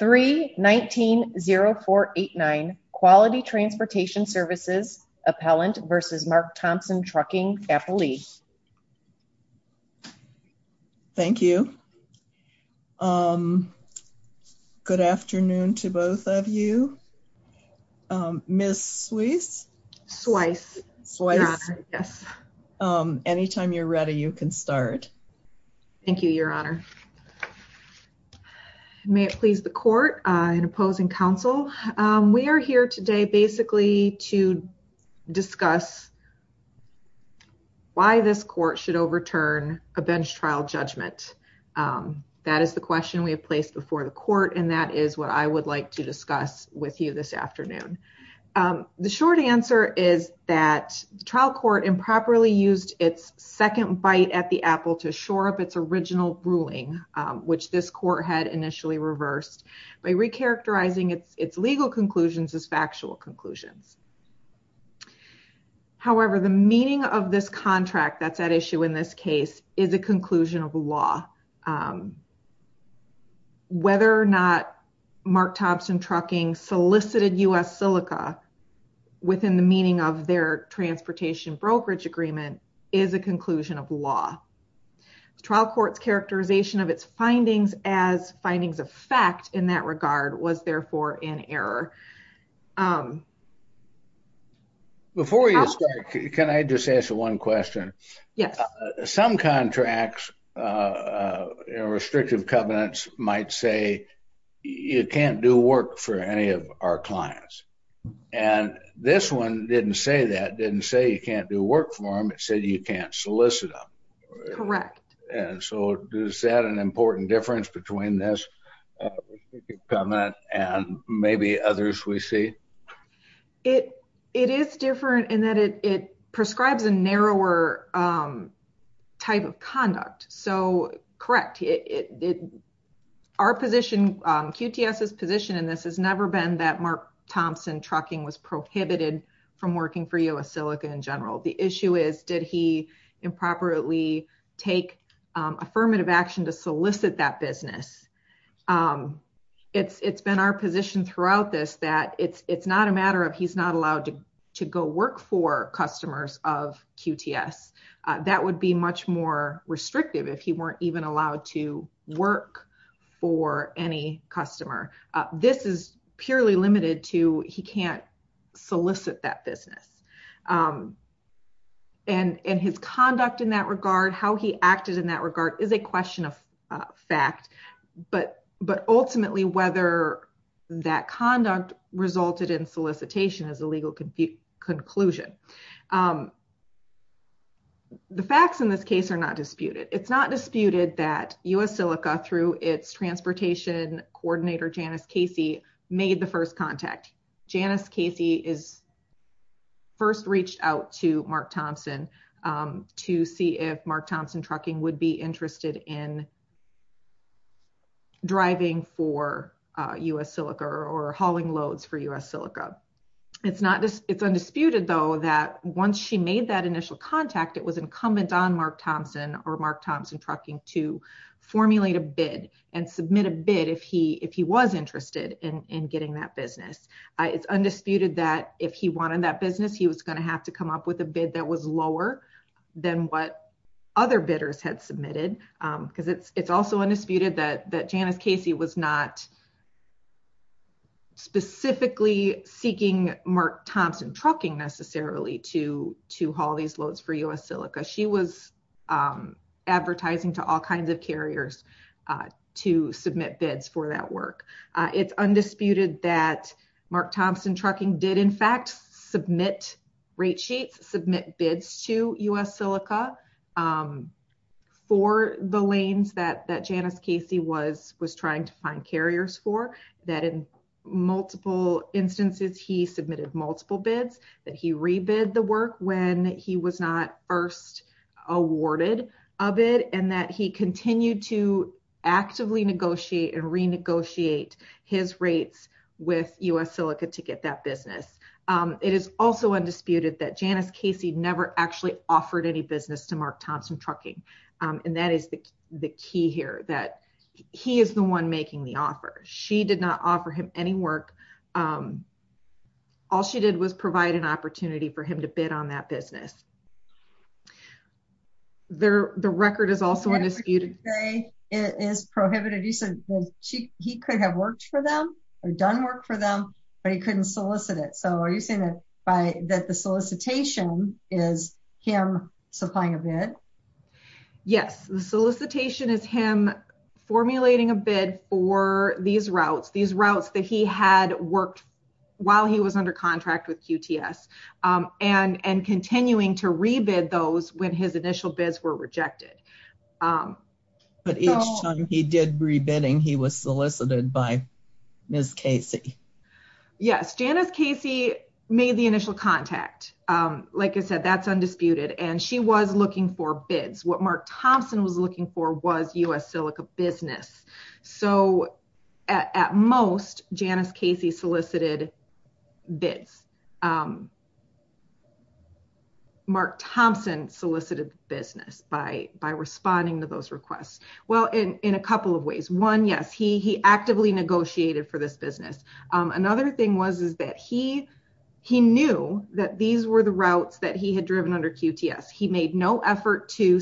3-19-0489 Quality Transportation Services, Appellant v. Mark Thompson Trucking, Appallee Thank you. Good afternoon to both of you. Ms. Sweiss? Sweiss, Your Honor, yes. Anytime you're ready, you can start. Thank you, Your Honor. May it please the court and opposing counsel. We are here today basically to discuss why this court should overturn a bench trial judgment. That is the question we have placed before the court and that is what I would like to discuss with you this afternoon. The short answer is that the trial court improperly used its second bite at the apple to shore up its original ruling, which this court had initially reversed by recharacterizing its legal conclusions as factual conclusions. However, the meaning of this contract that's at issue in this case is a conclusion of law. Whether or not Mark Thompson Trucking solicited U.S. Silica within the meaning of their transportation brokerage agreement is a conclusion of law. The trial court's characterization of its findings as findings of fact in that regard was therefore in error. Before you start, can I just ask you one question? Yes. Some contracts, restrictive covenants might say you can't do work for any of our clients. And this one didn't say that, didn't say you can't do work for them, it said you can't solicit them. Correct. And so is that an important difference between this covenant and maybe others we see? It is different in that it prescribes a narrower type of conduct. So, correct. Our position, QTS's position in this has never been that Mark Thompson Trucking was prohibited from working for U.S. Silica in general. The issue is did he improperly take affirmative action to solicit that business? It's been our position throughout this that it's not a matter of he's not allowed to go work for customers of QTS. That would be much more restrictive if he even allowed to work for any customer. This is purely limited to he can't solicit that business. And his conduct in that regard, how he acted in that regard is a question of fact. But ultimately, whether that conduct resulted in solicitation is a legal conclusion. The facts in this case are not disputed. It's not disputed that U.S. Silica through its transportation coordinator Janice Casey made the first contact. Janice Casey is first reached out to Mark Thompson to see if Mark Thompson Trucking would be interested in driving for U.S. Silica or hauling loads for U.S. Silica. It's not, it's undisputed though that once she made that initial contact, it was incumbent on Mark Thompson or Mark Thompson Trucking to formulate a bid and submit a bid if he was interested in getting that business. It's undisputed that if he wanted that business, he was going to have to come up with a bid that was lower than what other bidders had submitted. Because it's also undisputed that Janice Casey was not specifically seeking Mark Thompson Trucking necessarily to haul these loads for U.S. Silica. She was advertising to all kinds of carriers to submit bids for that work. It's undisputed that Mark Thompson Trucking did in fact submit rate sheets, submit bids to U.S. The lanes that Janice Casey was trying to find carriers for, that in multiple instances he submitted multiple bids, that he rebid the work when he was not first awarded a bid and that he continued to actively negotiate and renegotiate his rates with U.S. Silica to get that business. It is also undisputed that Janice Casey never actually offered any business to Mark Thompson Trucking. And that is the key here, that he is the one making the offer. She did not offer him any work. All she did was provide an opportunity for him to bid on that business. The record is also undisputed. It is prohibited. You said he could have worked for them or done work for them, but he couldn't solicit it. So are you saying that the solicitation is him supplying a bid? Yes, the solicitation is him formulating a bid for these routes, these routes that he had worked while he was under contract with QTS and continuing to rebid those when his initial bids were rejected. But each time he did rebidding, he was solicited by Ms. Casey? Yes, Janice Casey made the initial contact. Like I said, that's undisputed. And she was looking for Mark Thompson was looking for was U.S. Silica business. So at most Janice Casey solicited bids. Mark Thompson solicited business by responding to those requests. Well, in a couple of ways. One, yes, he actively negotiated for this business. Another thing was that he knew that these were the routes that he had driven under QTS. He made no effort to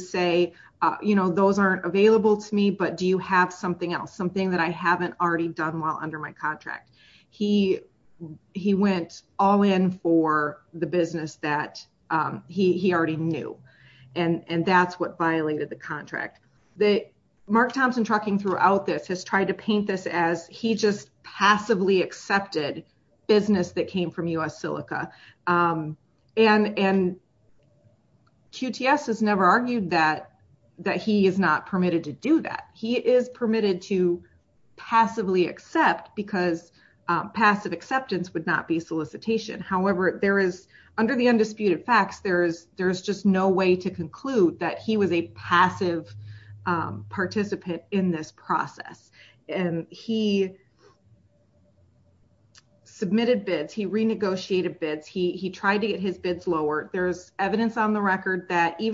you know, those aren't available to me, but do you have something else, something that I haven't already done while under my contract? He went all in for the business that he already knew. And that's what violated the contract. Mark Thompson trucking throughout this has tried to paint this as he just passively accepted business that came from U.S. Silica. And QTS has never argued that he is not permitted to do that. He is permitted to passively accept because passive acceptance would not be solicitation. However, there is under the undisputed facts, there's just no way to conclude that he was a passive participant in this process. And he submitted bids. He renegotiated bids. He tried to get his bids lower. There's evidence on the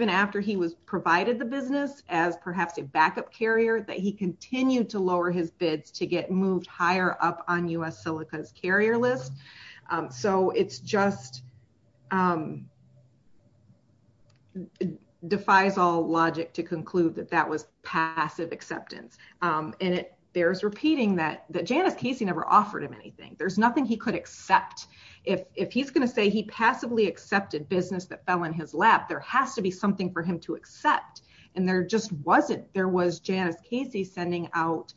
after he was provided the business as perhaps a backup carrier that he continued to lower his bids to get moved higher up on U.S. Silica's carrier list. So it's just defies all logic to conclude that that was passive acceptance. And there's repeating that Janice Casey never offered him anything. There's nothing he could accept. If he's going to say he passively accepted business that fell in his lap, there has to be something for him to accept. And there just wasn't. There was Janice Casey sending out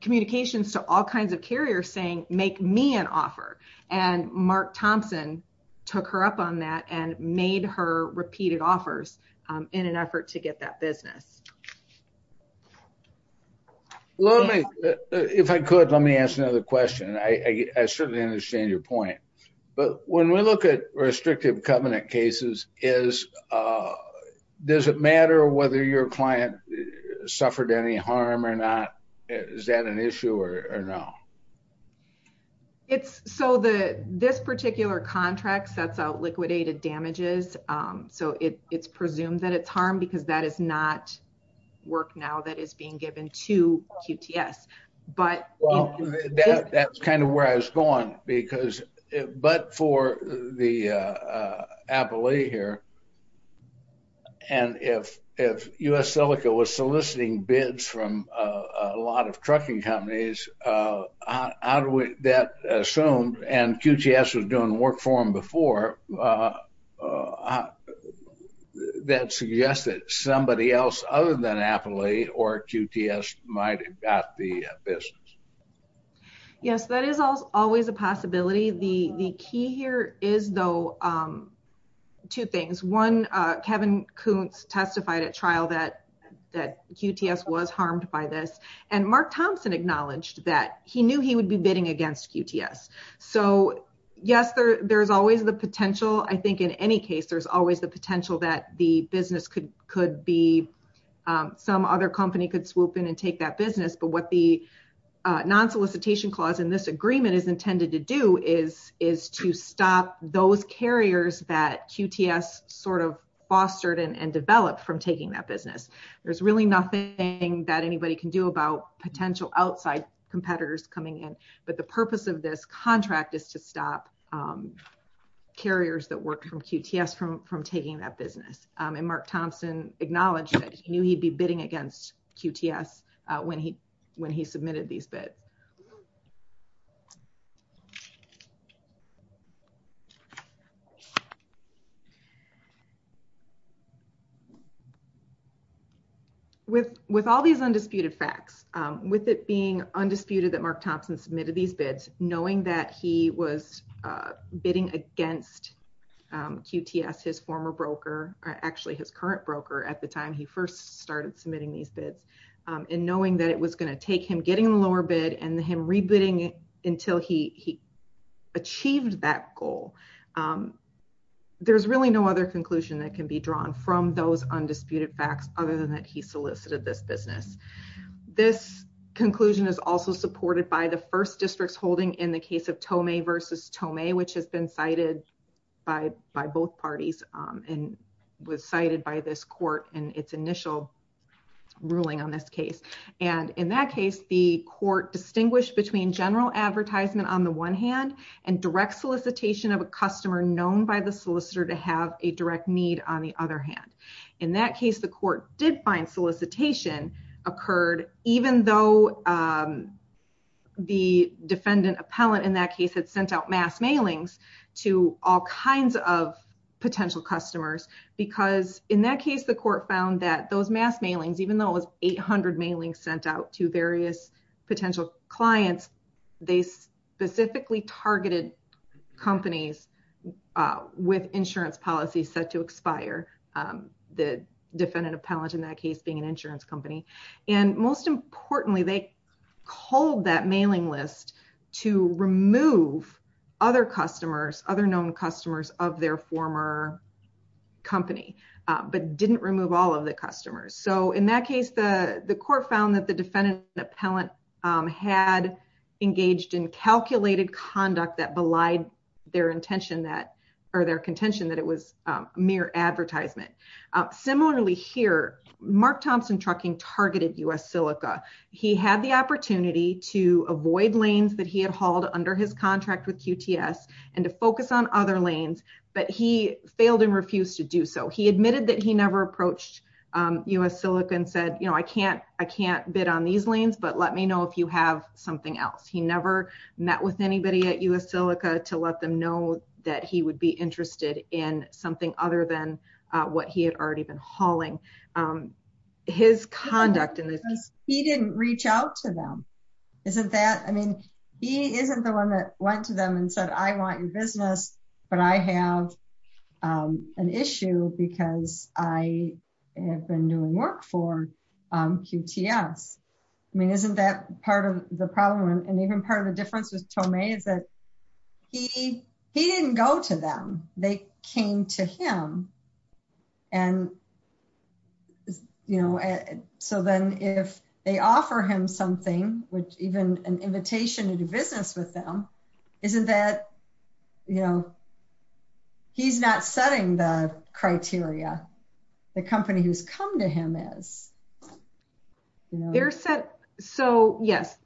communications to all kinds of carriers saying, make me an offer. And Mark Thompson took her up on that and made her repeated offers in an effort to get that business. If I could, let me ask another question. I certainly understand your but when we look at restrictive covenant cases, does it matter whether your client suffered any harm or not? Is that an issue or no? It's so this particular contract sets out liquidated damages. So it's presumed that it's harmed because that is not work now that is being given to QTS. But that's kind of where I was going because it but for the appellee here. And if if US Silica was soliciting bids from a lot of trucking companies that assumed and QTS was doing work for him before that suggested somebody else other than appellee or QTS might have got the business. Yes, that is always a possibility. The key here is though two things. One, Kevin Koontz testified at trial that that QTS was harmed by this. And Mark Thompson acknowledged that he knew he would be bidding against QTS. So yes, there there's always the potential. I think in any case, there's always the potential that the business could could be some other company could swoop in and take that business. But what the non solicitation clause in this agreement is intended to do is, is to stop those carriers that QTS sort of fostered and developed from taking that business. There's really nothing that anybody can do about potential outside competitors coming in. But the purpose of this contract is to stop carriers that work from QTS from from taking that business. And Mark Thompson acknowledged that he knew he'd be bidding against QTS when he when he submitted these bids. With with all these undisputed facts, with it being undisputed that actually his current broker at the time he first started submitting these bids, and knowing that it was going to take him getting the lower bid and him rebidding it until he achieved that goal. There's really no other conclusion that can be drawn from those undisputed facts other than that he solicited this business. This conclusion is also supported by the first districts holding in the case of Tomei versus Tomei, which has been cited by by both parties, and was cited by this court and its initial ruling on this case. And in that case, the court distinguished between general advertisement on the one hand, and direct solicitation of a customer known by the solicitor to have a direct need on the other hand. In that case, the court did find solicitation occurred, even though the defendant appellant in that case had sent out mass mailings to all kinds of potential customers. Because in that case, the court found that those mass mailings, even though it was 800 mailings sent out to various potential clients, they specifically targeted companies with insurance policies set to expire, the defendant appellant in that case being an insurance company. And most importantly, they culled that mailing list to remove other customers, other known customers of their former company, but didn't remove all of the customers. So in that case, the court found that the defendant appellant had engaged in calculated conduct that belied their intention that or their contention that it was mere advertisement. Similarly here, Mark Thompson Trucking targeted U.S. Silica. He had the opportunity to avoid lanes that he had hauled under his contract with QTS and to focus on other lanes, but he failed and refused to do so. He admitted that he never approached U.S. Silica and said, I can't bid on these lanes, but let me know if you have something else. He never met with anybody at U.S. Silica to let them know that he would be he didn't reach out to them. Isn't that I mean, he isn't the one that went to them and said, I want your business, but I have an issue because I have been doing work for QTS. I mean, isn't that part of the problem? And even part of the difference with Tomei is that he, he didn't go to them. They came to him and, you know, so then if they offer him something, which even an invitation to do business with them, isn't that, you know, he's not setting the criteria, the company who's come to him is. They're set. So yes,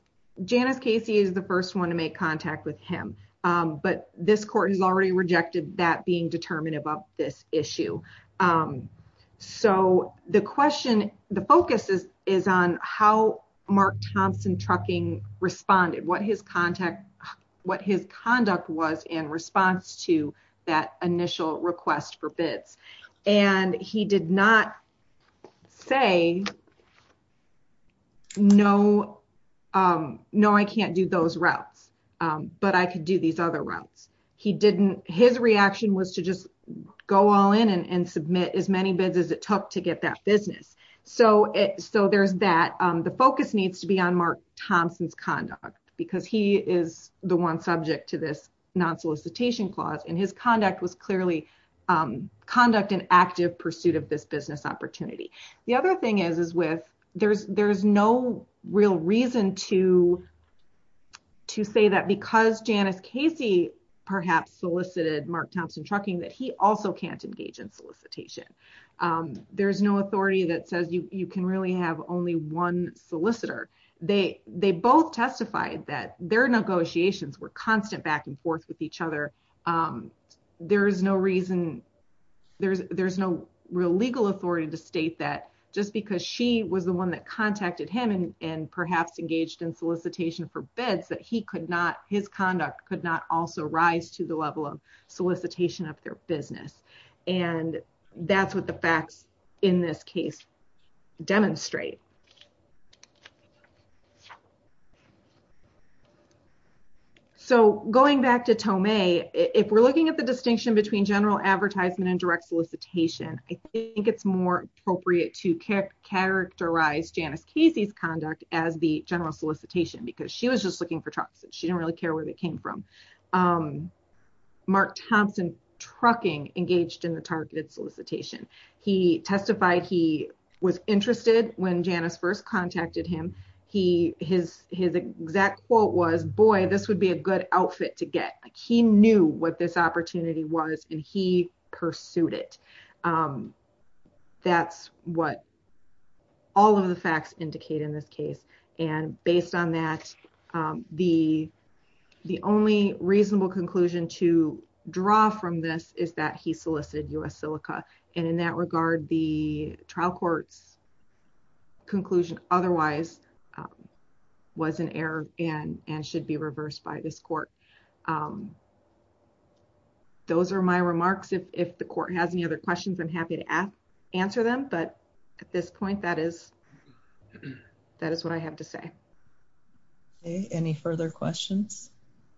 Janice Casey is the first one to make contact with him. But this court has already rejected that being determinative of this issue. So the question, the focus is, is on how Mark Thompson trucking responded, what his contact, what his conduct was in response to that initial request for bids. And he did not say, no, no, I can't do those routes, but I could do these other routes. He didn't, his reaction was to just go all in and submit as many bids as it took to get that business. So it, so there's that the focus needs to be on Mark Thompson's conduct because he is the one subject to this non solicitation clause and his conduct was clearly conduct and active pursuit of this business opportunity. The other thing is, is with there's, there's no real reason to, to say that because Janice Casey perhaps solicited Mark Thompson trucking that he also can't engage in solicitation. There's no authority that says you can really have only one solicitor. They, they both testified that their negotiations were constant back and forth with each other. There is no reason, there's no real legal authority to state that just because she was the one that contacted him and perhaps engaged in solicitation for bids that he could not, his conduct could not also rise to the level of solicitation of their business. And that's what the facts in this case demonstrate. So going back to Tomei, if we're looking at the distinction between general advertisement and direct solicitation, I think it's more appropriate to characterize Janice Casey's conduct as the general solicitation, because she was just looking for trucks. She didn't really care where they came from. Mark Thompson trucking engaged in the targeted solicitation. He testified he was interested when Janice first contacted him. He, his, his exact quote was, boy, this would be a good outfit to get. He knew what this opportunity was and he pursued it. That's what all of the the only reasonable conclusion to draw from this is that he solicited U.S. Silica. And in that regard, the trial court's conclusion otherwise was an error and, and should be reversed by this court. Those are my remarks. If, if the court has any other questions, I'm happy to ask, answer them. But at this point, that is, that is what I have to say. Okay. Any further questions?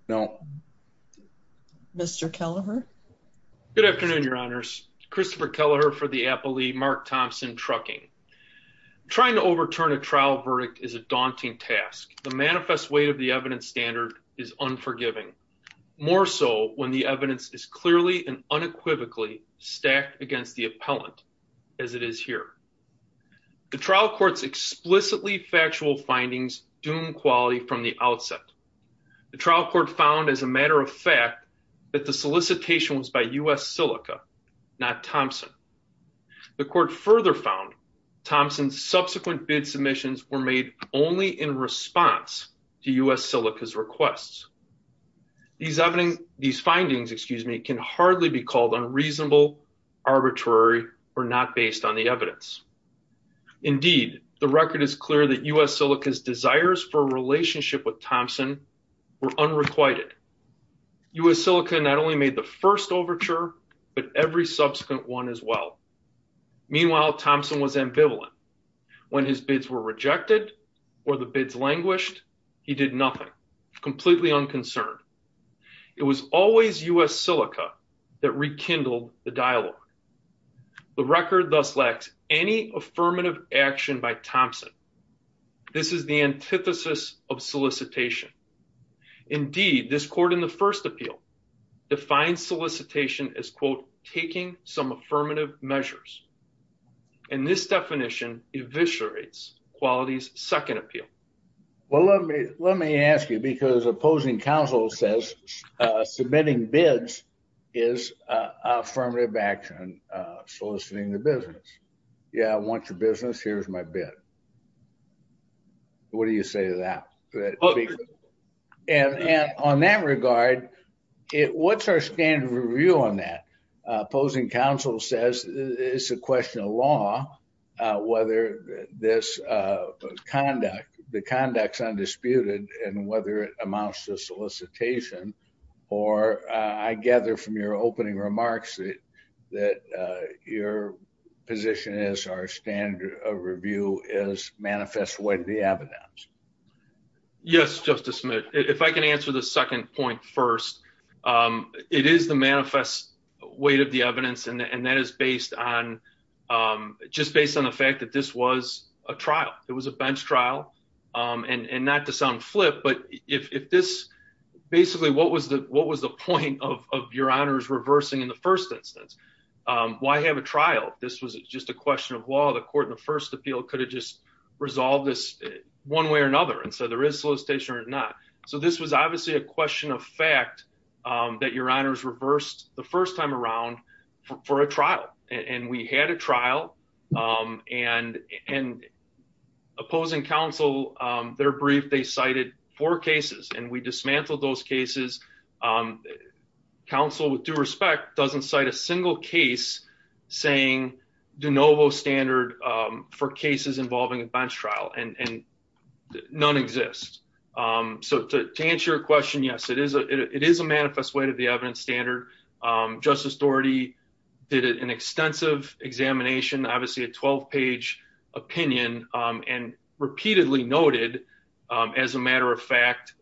No. Mr. Kelleher. Good afternoon, Your Honors. Christopher Kelleher for the appellee, Mark Thompson trucking. Trying to overturn a trial verdict is a daunting task. The manifest weight of the evidence standard is unforgiving, more so when the evidence is clearly and unequivocally stacked against the appellant, as it is here. The trial court's explicitly factual findings doom quality from the outset. The trial court found as a matter of fact that the solicitation was by U.S. Silica, not Thompson. The court further found Thompson's subsequent bid submissions were made only in response to U.S. Silica's requests. These evidence, these findings, excuse me, can hardly be called unreasonable, arbitrary, or not based on the evidence. Indeed, the record is clear that U.S. Silica's desires for a relationship with Thompson were unrequited. U.S. Silica not only made the first overture, but every subsequent one as well. Meanwhile, Thompson was ambivalent. When his bids were rejected or the bids languished, he did nothing, completely unconcerned. It was always U.S. Silica that rekindled the dialogue. The record thus lacks any affirmative action by Thompson. This is the antithesis of solicitation. Indeed, this court in the first appeal defines solicitation as, quote, taking some affirmative measures. And this definition eviscerates quality's second appeal. Well, let me ask you, because opposing counsel says submitting bids is affirmative action, soliciting the business. Yeah, I want your business. Here's my bid. What do you say to that? And on that regard, what's our standard of review on that? Opposing counsel says it's a question of law whether this conduct, the conduct's undisputed and whether it amounts to solicitation. Or I gather from your opening remarks that your position is our standard of review is manifest way to the evidence. Yes, Justice Smith, if I can answer the second point first, it is the manifest weight of the evidence. And that is based on just based on the fact that this was a trial. It was a bench trial. And not to sound flip, but if this basically what was the what was the point of your honors reversing in the first instance? Why have a trial? This was just a question of law. The court in the first appeal could have just resolved this one way or another. And so there is solicitation or not. So this was obviously a question of fact that your honors reversed the first time around for a trial. And we had a trial and and opposing counsel, their brief, they cited four cases and we dismantled those cases. Counsel with due respect doesn't cite a single case saying de novo standard for cases involving a bench trial. And none exists. So to answer your question, yes, it is a it is a manifest way to the evidence standard. Justice Doherty did an extensive examination, obviously a 12 page opinion and repeatedly noted as a matter of fact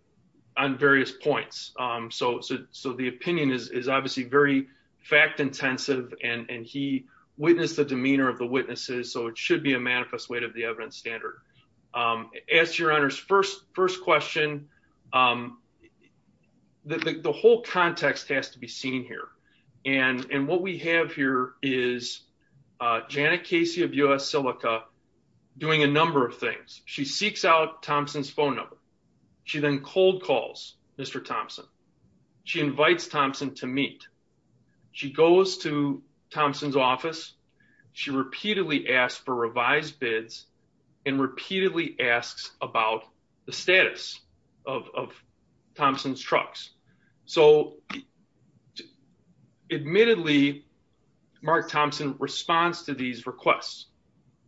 on various points. So so the opinion is obviously very fact intensive and he witnessed the demeanor of the witnesses. So it should be a manifest way to the evidence standard. As your honors first first question, the whole context has to be seen here. And and what we have here is Janet Casey of Thompson's phone number. She then cold calls Mr. Thompson. She invites Thompson to meet. She goes to Thompson's office. She repeatedly asked for revised bids and repeatedly asks about the status of Thompson's trucks. So admittedly, Mark Thompson responds to these requests.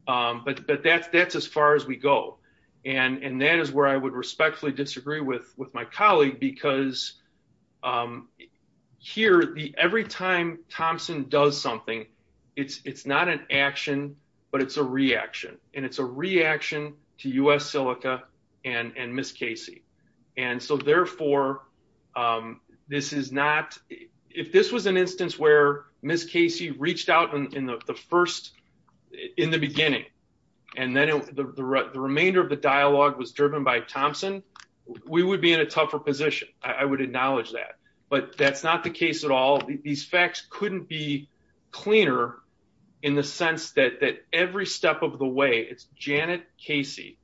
But but that's that's as far as we go. And and that is where I would respectfully disagree with with my colleague, because here the every time Thompson does something, it's it's not an action, but it's a reaction. And it's a reaction to US reached out in the first in the beginning. And then the remainder of the dialogue was driven by Thompson. We would be in a tougher position. I would acknowledge that. But that's not the case at all. These facts couldn't be cleaner in the sense that that every step of the way, it's Janet Casey,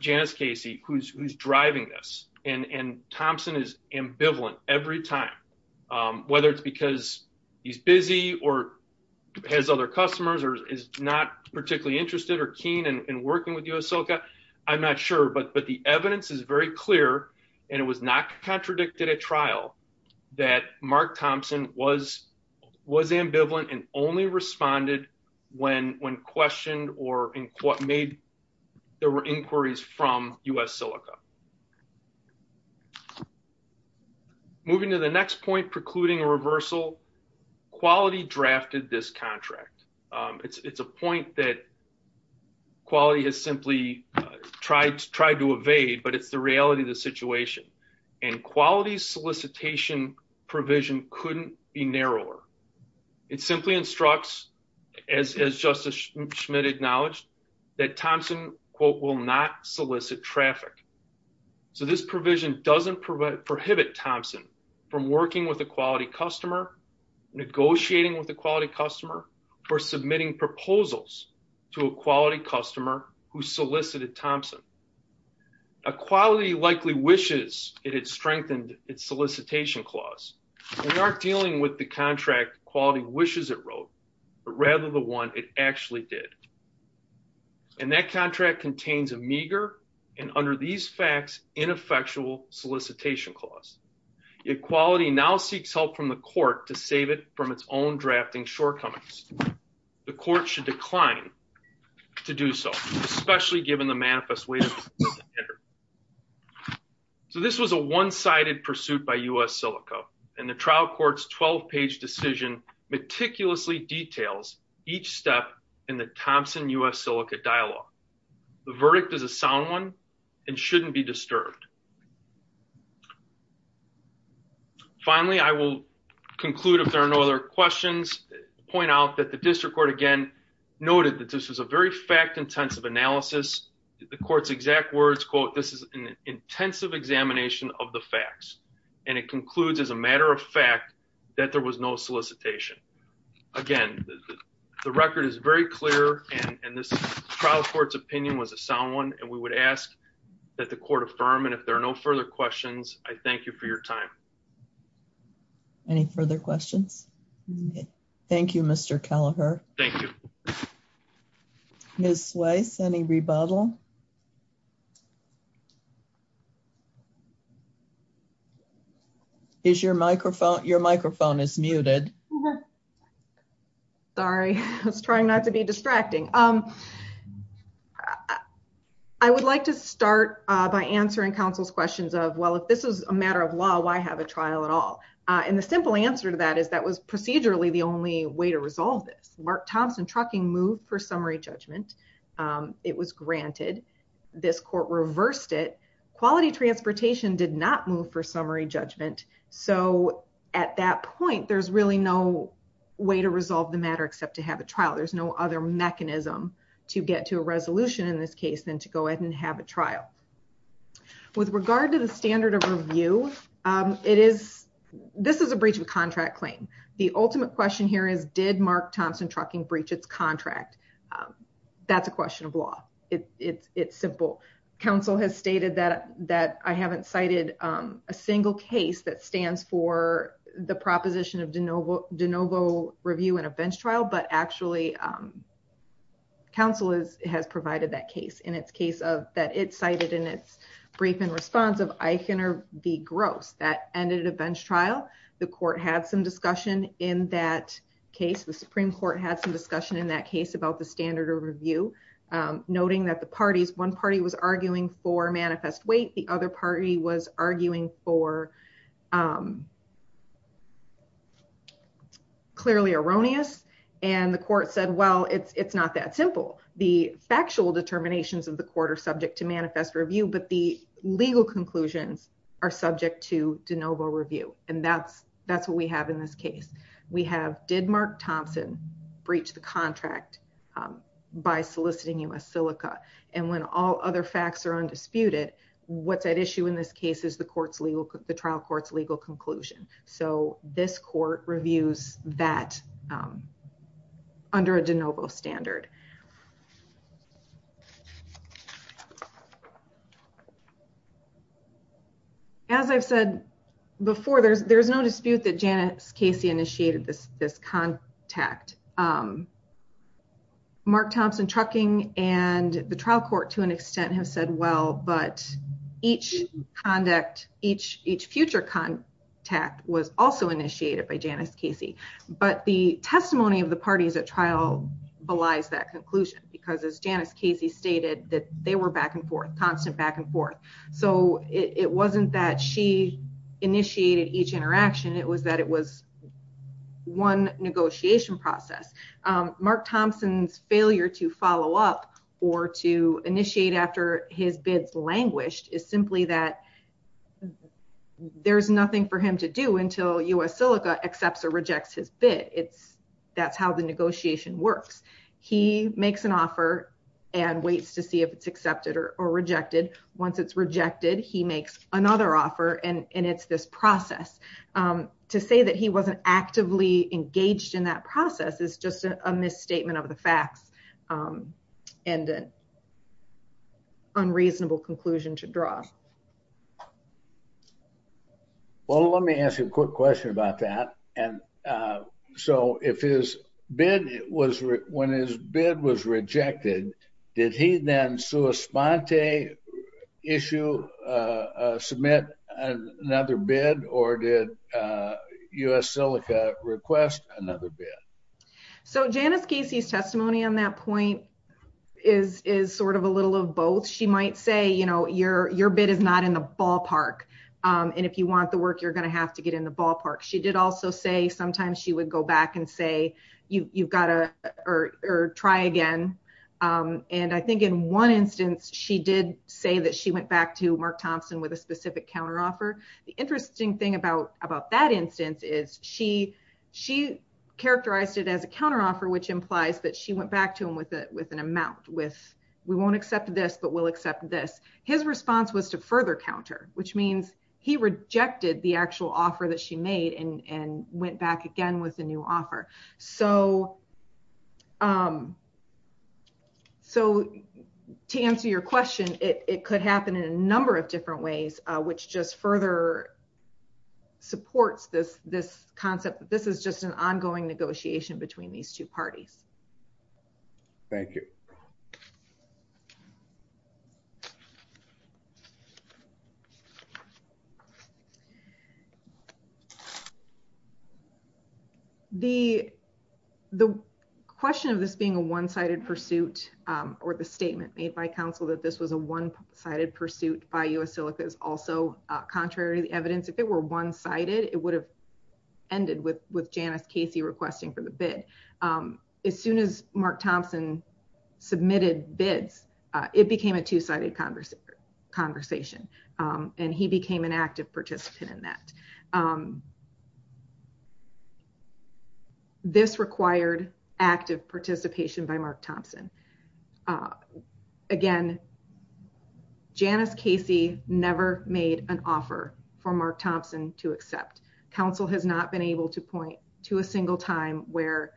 Janice Casey, who's who's driving this. And Thompson is ambivalent every time, whether it's because he's busy or has other customers or is not particularly interested or keen and working with us. So I'm not sure but but the evidence is very clear. And it was not contradicted at trial that Mark Thompson was was ambivalent and only responded when when questioned or in what made there were inquiries from US silica. Moving to the next point precluding a reversal, quality drafted this contract. It's a point that quality has simply tried to try to evade, but it's the reality of the situation. And quality solicitation provision couldn't be narrower. It simply instructs, as Justice Schmidt acknowledged, that Thompson quote will not solicit traffic. So this provision doesn't prohibit Thompson from working with a quality customer, negotiating with a quality customer, or submitting proposals to a quality customer who solicited Thompson. A quality likely wishes it had strengthened its solicitation clause. We aren't dealing with the contract quality wishes it wrote, but rather the one it actually did. And that contract contains a meager, and under these facts, ineffectual solicitation clause. Equality now seeks help from the court to save it from its own drafting shortcomings. The court should decline to do so, especially given the manifest way. So this was a one sided pursuit by US silica. And the trial court's 12 details each step in the Thompson US silica dialogue. The verdict is a sound one and shouldn't be disturbed. Finally, I will conclude if there are no other questions, point out that the district court again noted that this was a very fact intensive analysis. The court's exact words, quote, this is an intensive examination of the facts. And it concludes as a matter of fact, that there was no solicitation. Again, the record is very clear. And this trial court's opinion was a sound one. And we would ask that the court affirm. And if there are no further questions, I thank you for your time. Any further questions? Thank you, Mr. Kelleher. Thank you. Miss Weiss, any rebuttal? Is your microphone, your microphone is muted. Sorry, I was trying not to be distracting. Um, I would like to start by answering counsel's questions of well, if this is a matter of law, why have a trial at all? And the simple answer to that is that was procedurally the only way to for summary judgment. It was granted, this court reversed it, quality transportation did not move for summary judgment. So at that point, there's really no way to resolve the matter except to have a trial. There's no other mechanism to get to a resolution in this case than to go ahead and have a trial. With regard to the standard of review, it is this is a breach of contract claim. The ultimate question here is did Mark Thompson trucking breach its contract? That's a question of law. It's simple. Council has stated that I haven't cited a single case that stands for the proposition of de novo review in a bench trial. But actually, counsel has provided that case in its case of that it cited in its brief and responsive, I can be gross that ended a bench trial, the court had some discussion in that case, the Supreme Court had some discussion in that case about the standard of review, noting that the parties one party was arguing for manifest weight, the other party was arguing for clearly erroneous. And the court said, Well, it's not that simple. The factual determinations of the subject to manifest review, but the legal conclusions are subject to de novo review. And that's, that's what we have. In this case, we have did Mark Thompson, breach the contract by soliciting us silica. And when all other facts are undisputed, what's at issue in this case is the court's legal, the trial court's legal conclusion. So this court reviews that under a de novo standard. As I've said before, there's there's no dispute that Janice Casey initiated this this contact. Mark Thompson trucking and the trial court to an extent has said well, but each conduct each future contact was also initiated by Janice Casey. But the testimony of the parties at trial belies that conclusion, because as Janice Casey stated that they were back and forth constant back and forth. So it wasn't that she initiated each interaction, it was that it was one negotiation process. Mark Thompson's failure to follow up or to initiate after his bids languished is simply that there's nothing for him to do until us silica accepts or rejects his bid. It's that's how the negotiation works. He makes an offer and waits to see if it's accepted or rejected. Once it's rejected, he makes another offer. And it's this process to say that he wasn't actively engaged in that process is just a misstatement of the facts and unreasonable conclusion to draw. Well, let me ask you a quick question about that. And so if his bid was when his bid was rejected, did he then sua sponte issue, submit another bid or did us silica request another bid? So Janice Casey's testimony on that point is is sort of a little of both she might say, you know, your bid is not in the ballpark. And if you want the work, you're going to have to get in the ballpark. She did also say sometimes she would go back and say, you've got to or try again. And I think in one instance, she did say that she went back to Mark Thompson with a specific counter offer. The interesting thing about about that instance is she, she characterized it as a counter offer, which implies that she went back to him with a with an amount with, we won't accept this, but we'll accept this. His response was to further counter, which means he rejected the actual offer that she made and went back again with a new offer. So. So to answer your question, it could happen in a number of different ways, which just further supports this, this concept that this is just an ongoing negotiation between these two parties. Thank you. The, the question of this being a one-sided pursuit or the statement made by council that this was a one sided pursuit by U.S. Silica is also contrary to the evidence. If it were one sided, it would have ended with, with Janice Casey requesting for the bid. As soon as Mark Thompson submitted bids, it became a two-sided conversation conversation. And he became an active participant in that. This required active participation by Mark Thompson. Again, Janice Casey never made an Council has not been able to point to a single time where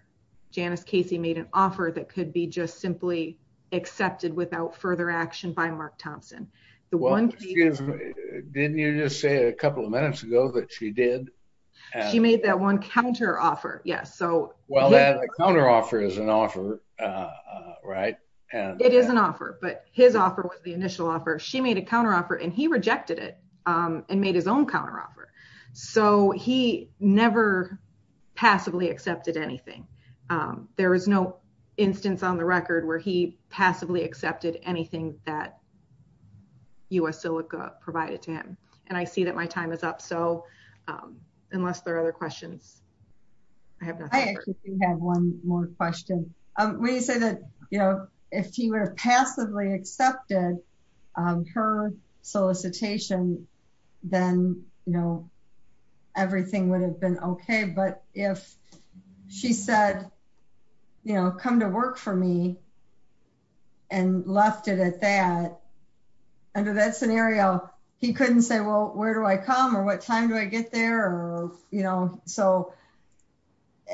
Janice Casey made an offer that could be just simply accepted without further action by Mark Thompson. The one, didn't you just say a couple of minutes ago that she did. She made that one counter offer. Yes. So well, that counter offer is an offer, right? And it is an offer, but his offer was the initial offer. She made a counter and he rejected it and made his own counter offer. So he never passively accepted anything. There was no instance on the record where he passively accepted anything that U.S. Silica provided to him. And I see that my time is up. So unless there are other questions, I have one more question. When you say that, you know, if he were passively accepted her solicitation, then, you know, everything would have been okay. But if she said, you know, come to work for me and left it at that, under that scenario, he couldn't say, well, where do I come or what time do I get there? Or, you know, so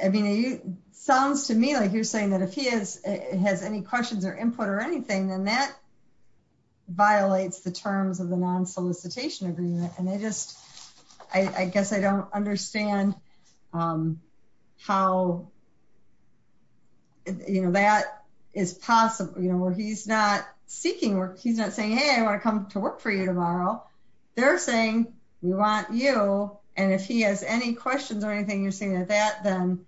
I mean, it sounds to me like you're saying that if he has any questions or input or anything, then that violates the terms of the non-solicitation agreement. And I just, I guess I don't understand how, you know, that is possible, you know, where he's not seeking work. He's not saying, hey, I want to come to work for you tomorrow. They're saying, we want you. And if he has any questions or anything, you're saying that that then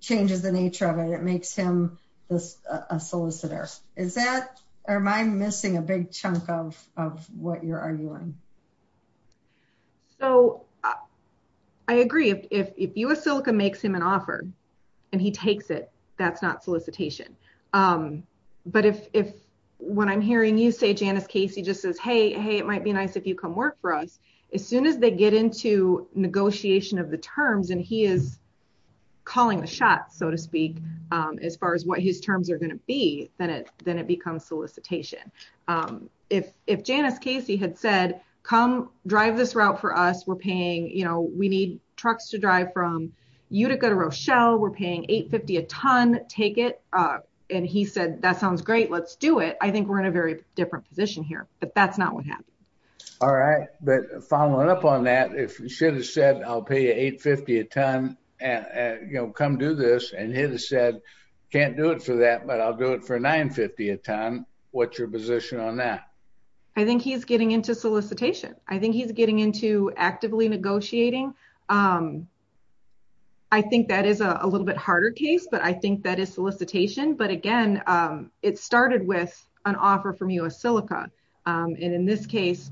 changes the nature of it. It makes him a solicitor. Is that or am I missing a big chunk of what you're arguing? So I agree. If US Silica makes him an offer and he takes it, that's not solicitation. But if, when I'm hearing you say Janice Casey just says, hey, it might be nice if you come work for us. As soon as they get into negotiation of the terms and he is calling the shots, so to speak, as far as what his terms are going to be, then it becomes solicitation. If Janice Casey had said, come drive this route for us. We're paying, you know, we need trucks to drive from Utica to Rochelle. We're paying $8.50 a ton. Take it. And he said, that sounds great. Let's do it. I think we're in a very different position here, but that's not what happened. All right. But following up on that, if you should have said, I'll pay you $8.50 a ton, you know, come do this. And he'd have said, can't do it for that, but I'll do it for $9.50 a ton. What's your position on that? I think he's getting into solicitation. I think he's getting into actively negotiating. I think that is a little bit harder case, but I think that is solicitation. But again, it started with an offer from U.S. Silica. And in this case,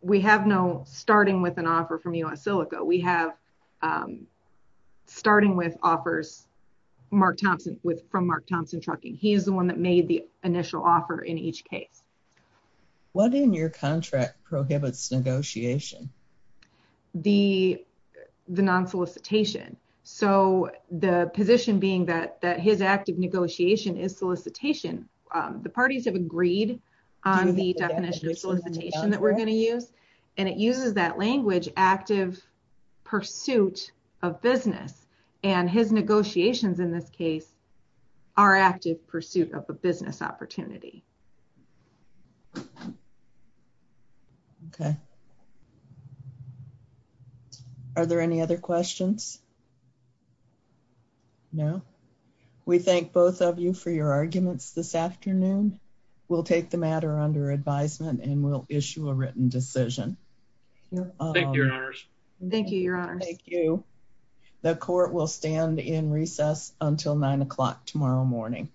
we have no starting with an offer from U.S. Silica. We have starting with offers from Mark Thompson Trucking. He's the one that made the initial offer in each case. What in your contract prohibits negotiation? The non-solicitation. So the position being that his active negotiation is solicitation, the parties have agreed on the definition of solicitation that we're going to use. And it uses that language, active pursuit of business. And his negotiations in this case are active pursuit of a business opportunity. Okay. Are there any other questions? No. We thank both of you for your arguments this afternoon. We'll take the matter under advisement and we'll issue a written decision. Thank you, your honors. Thank you, your honors. Thank you. The court will stand in recess until nine o'clock tomorrow morning.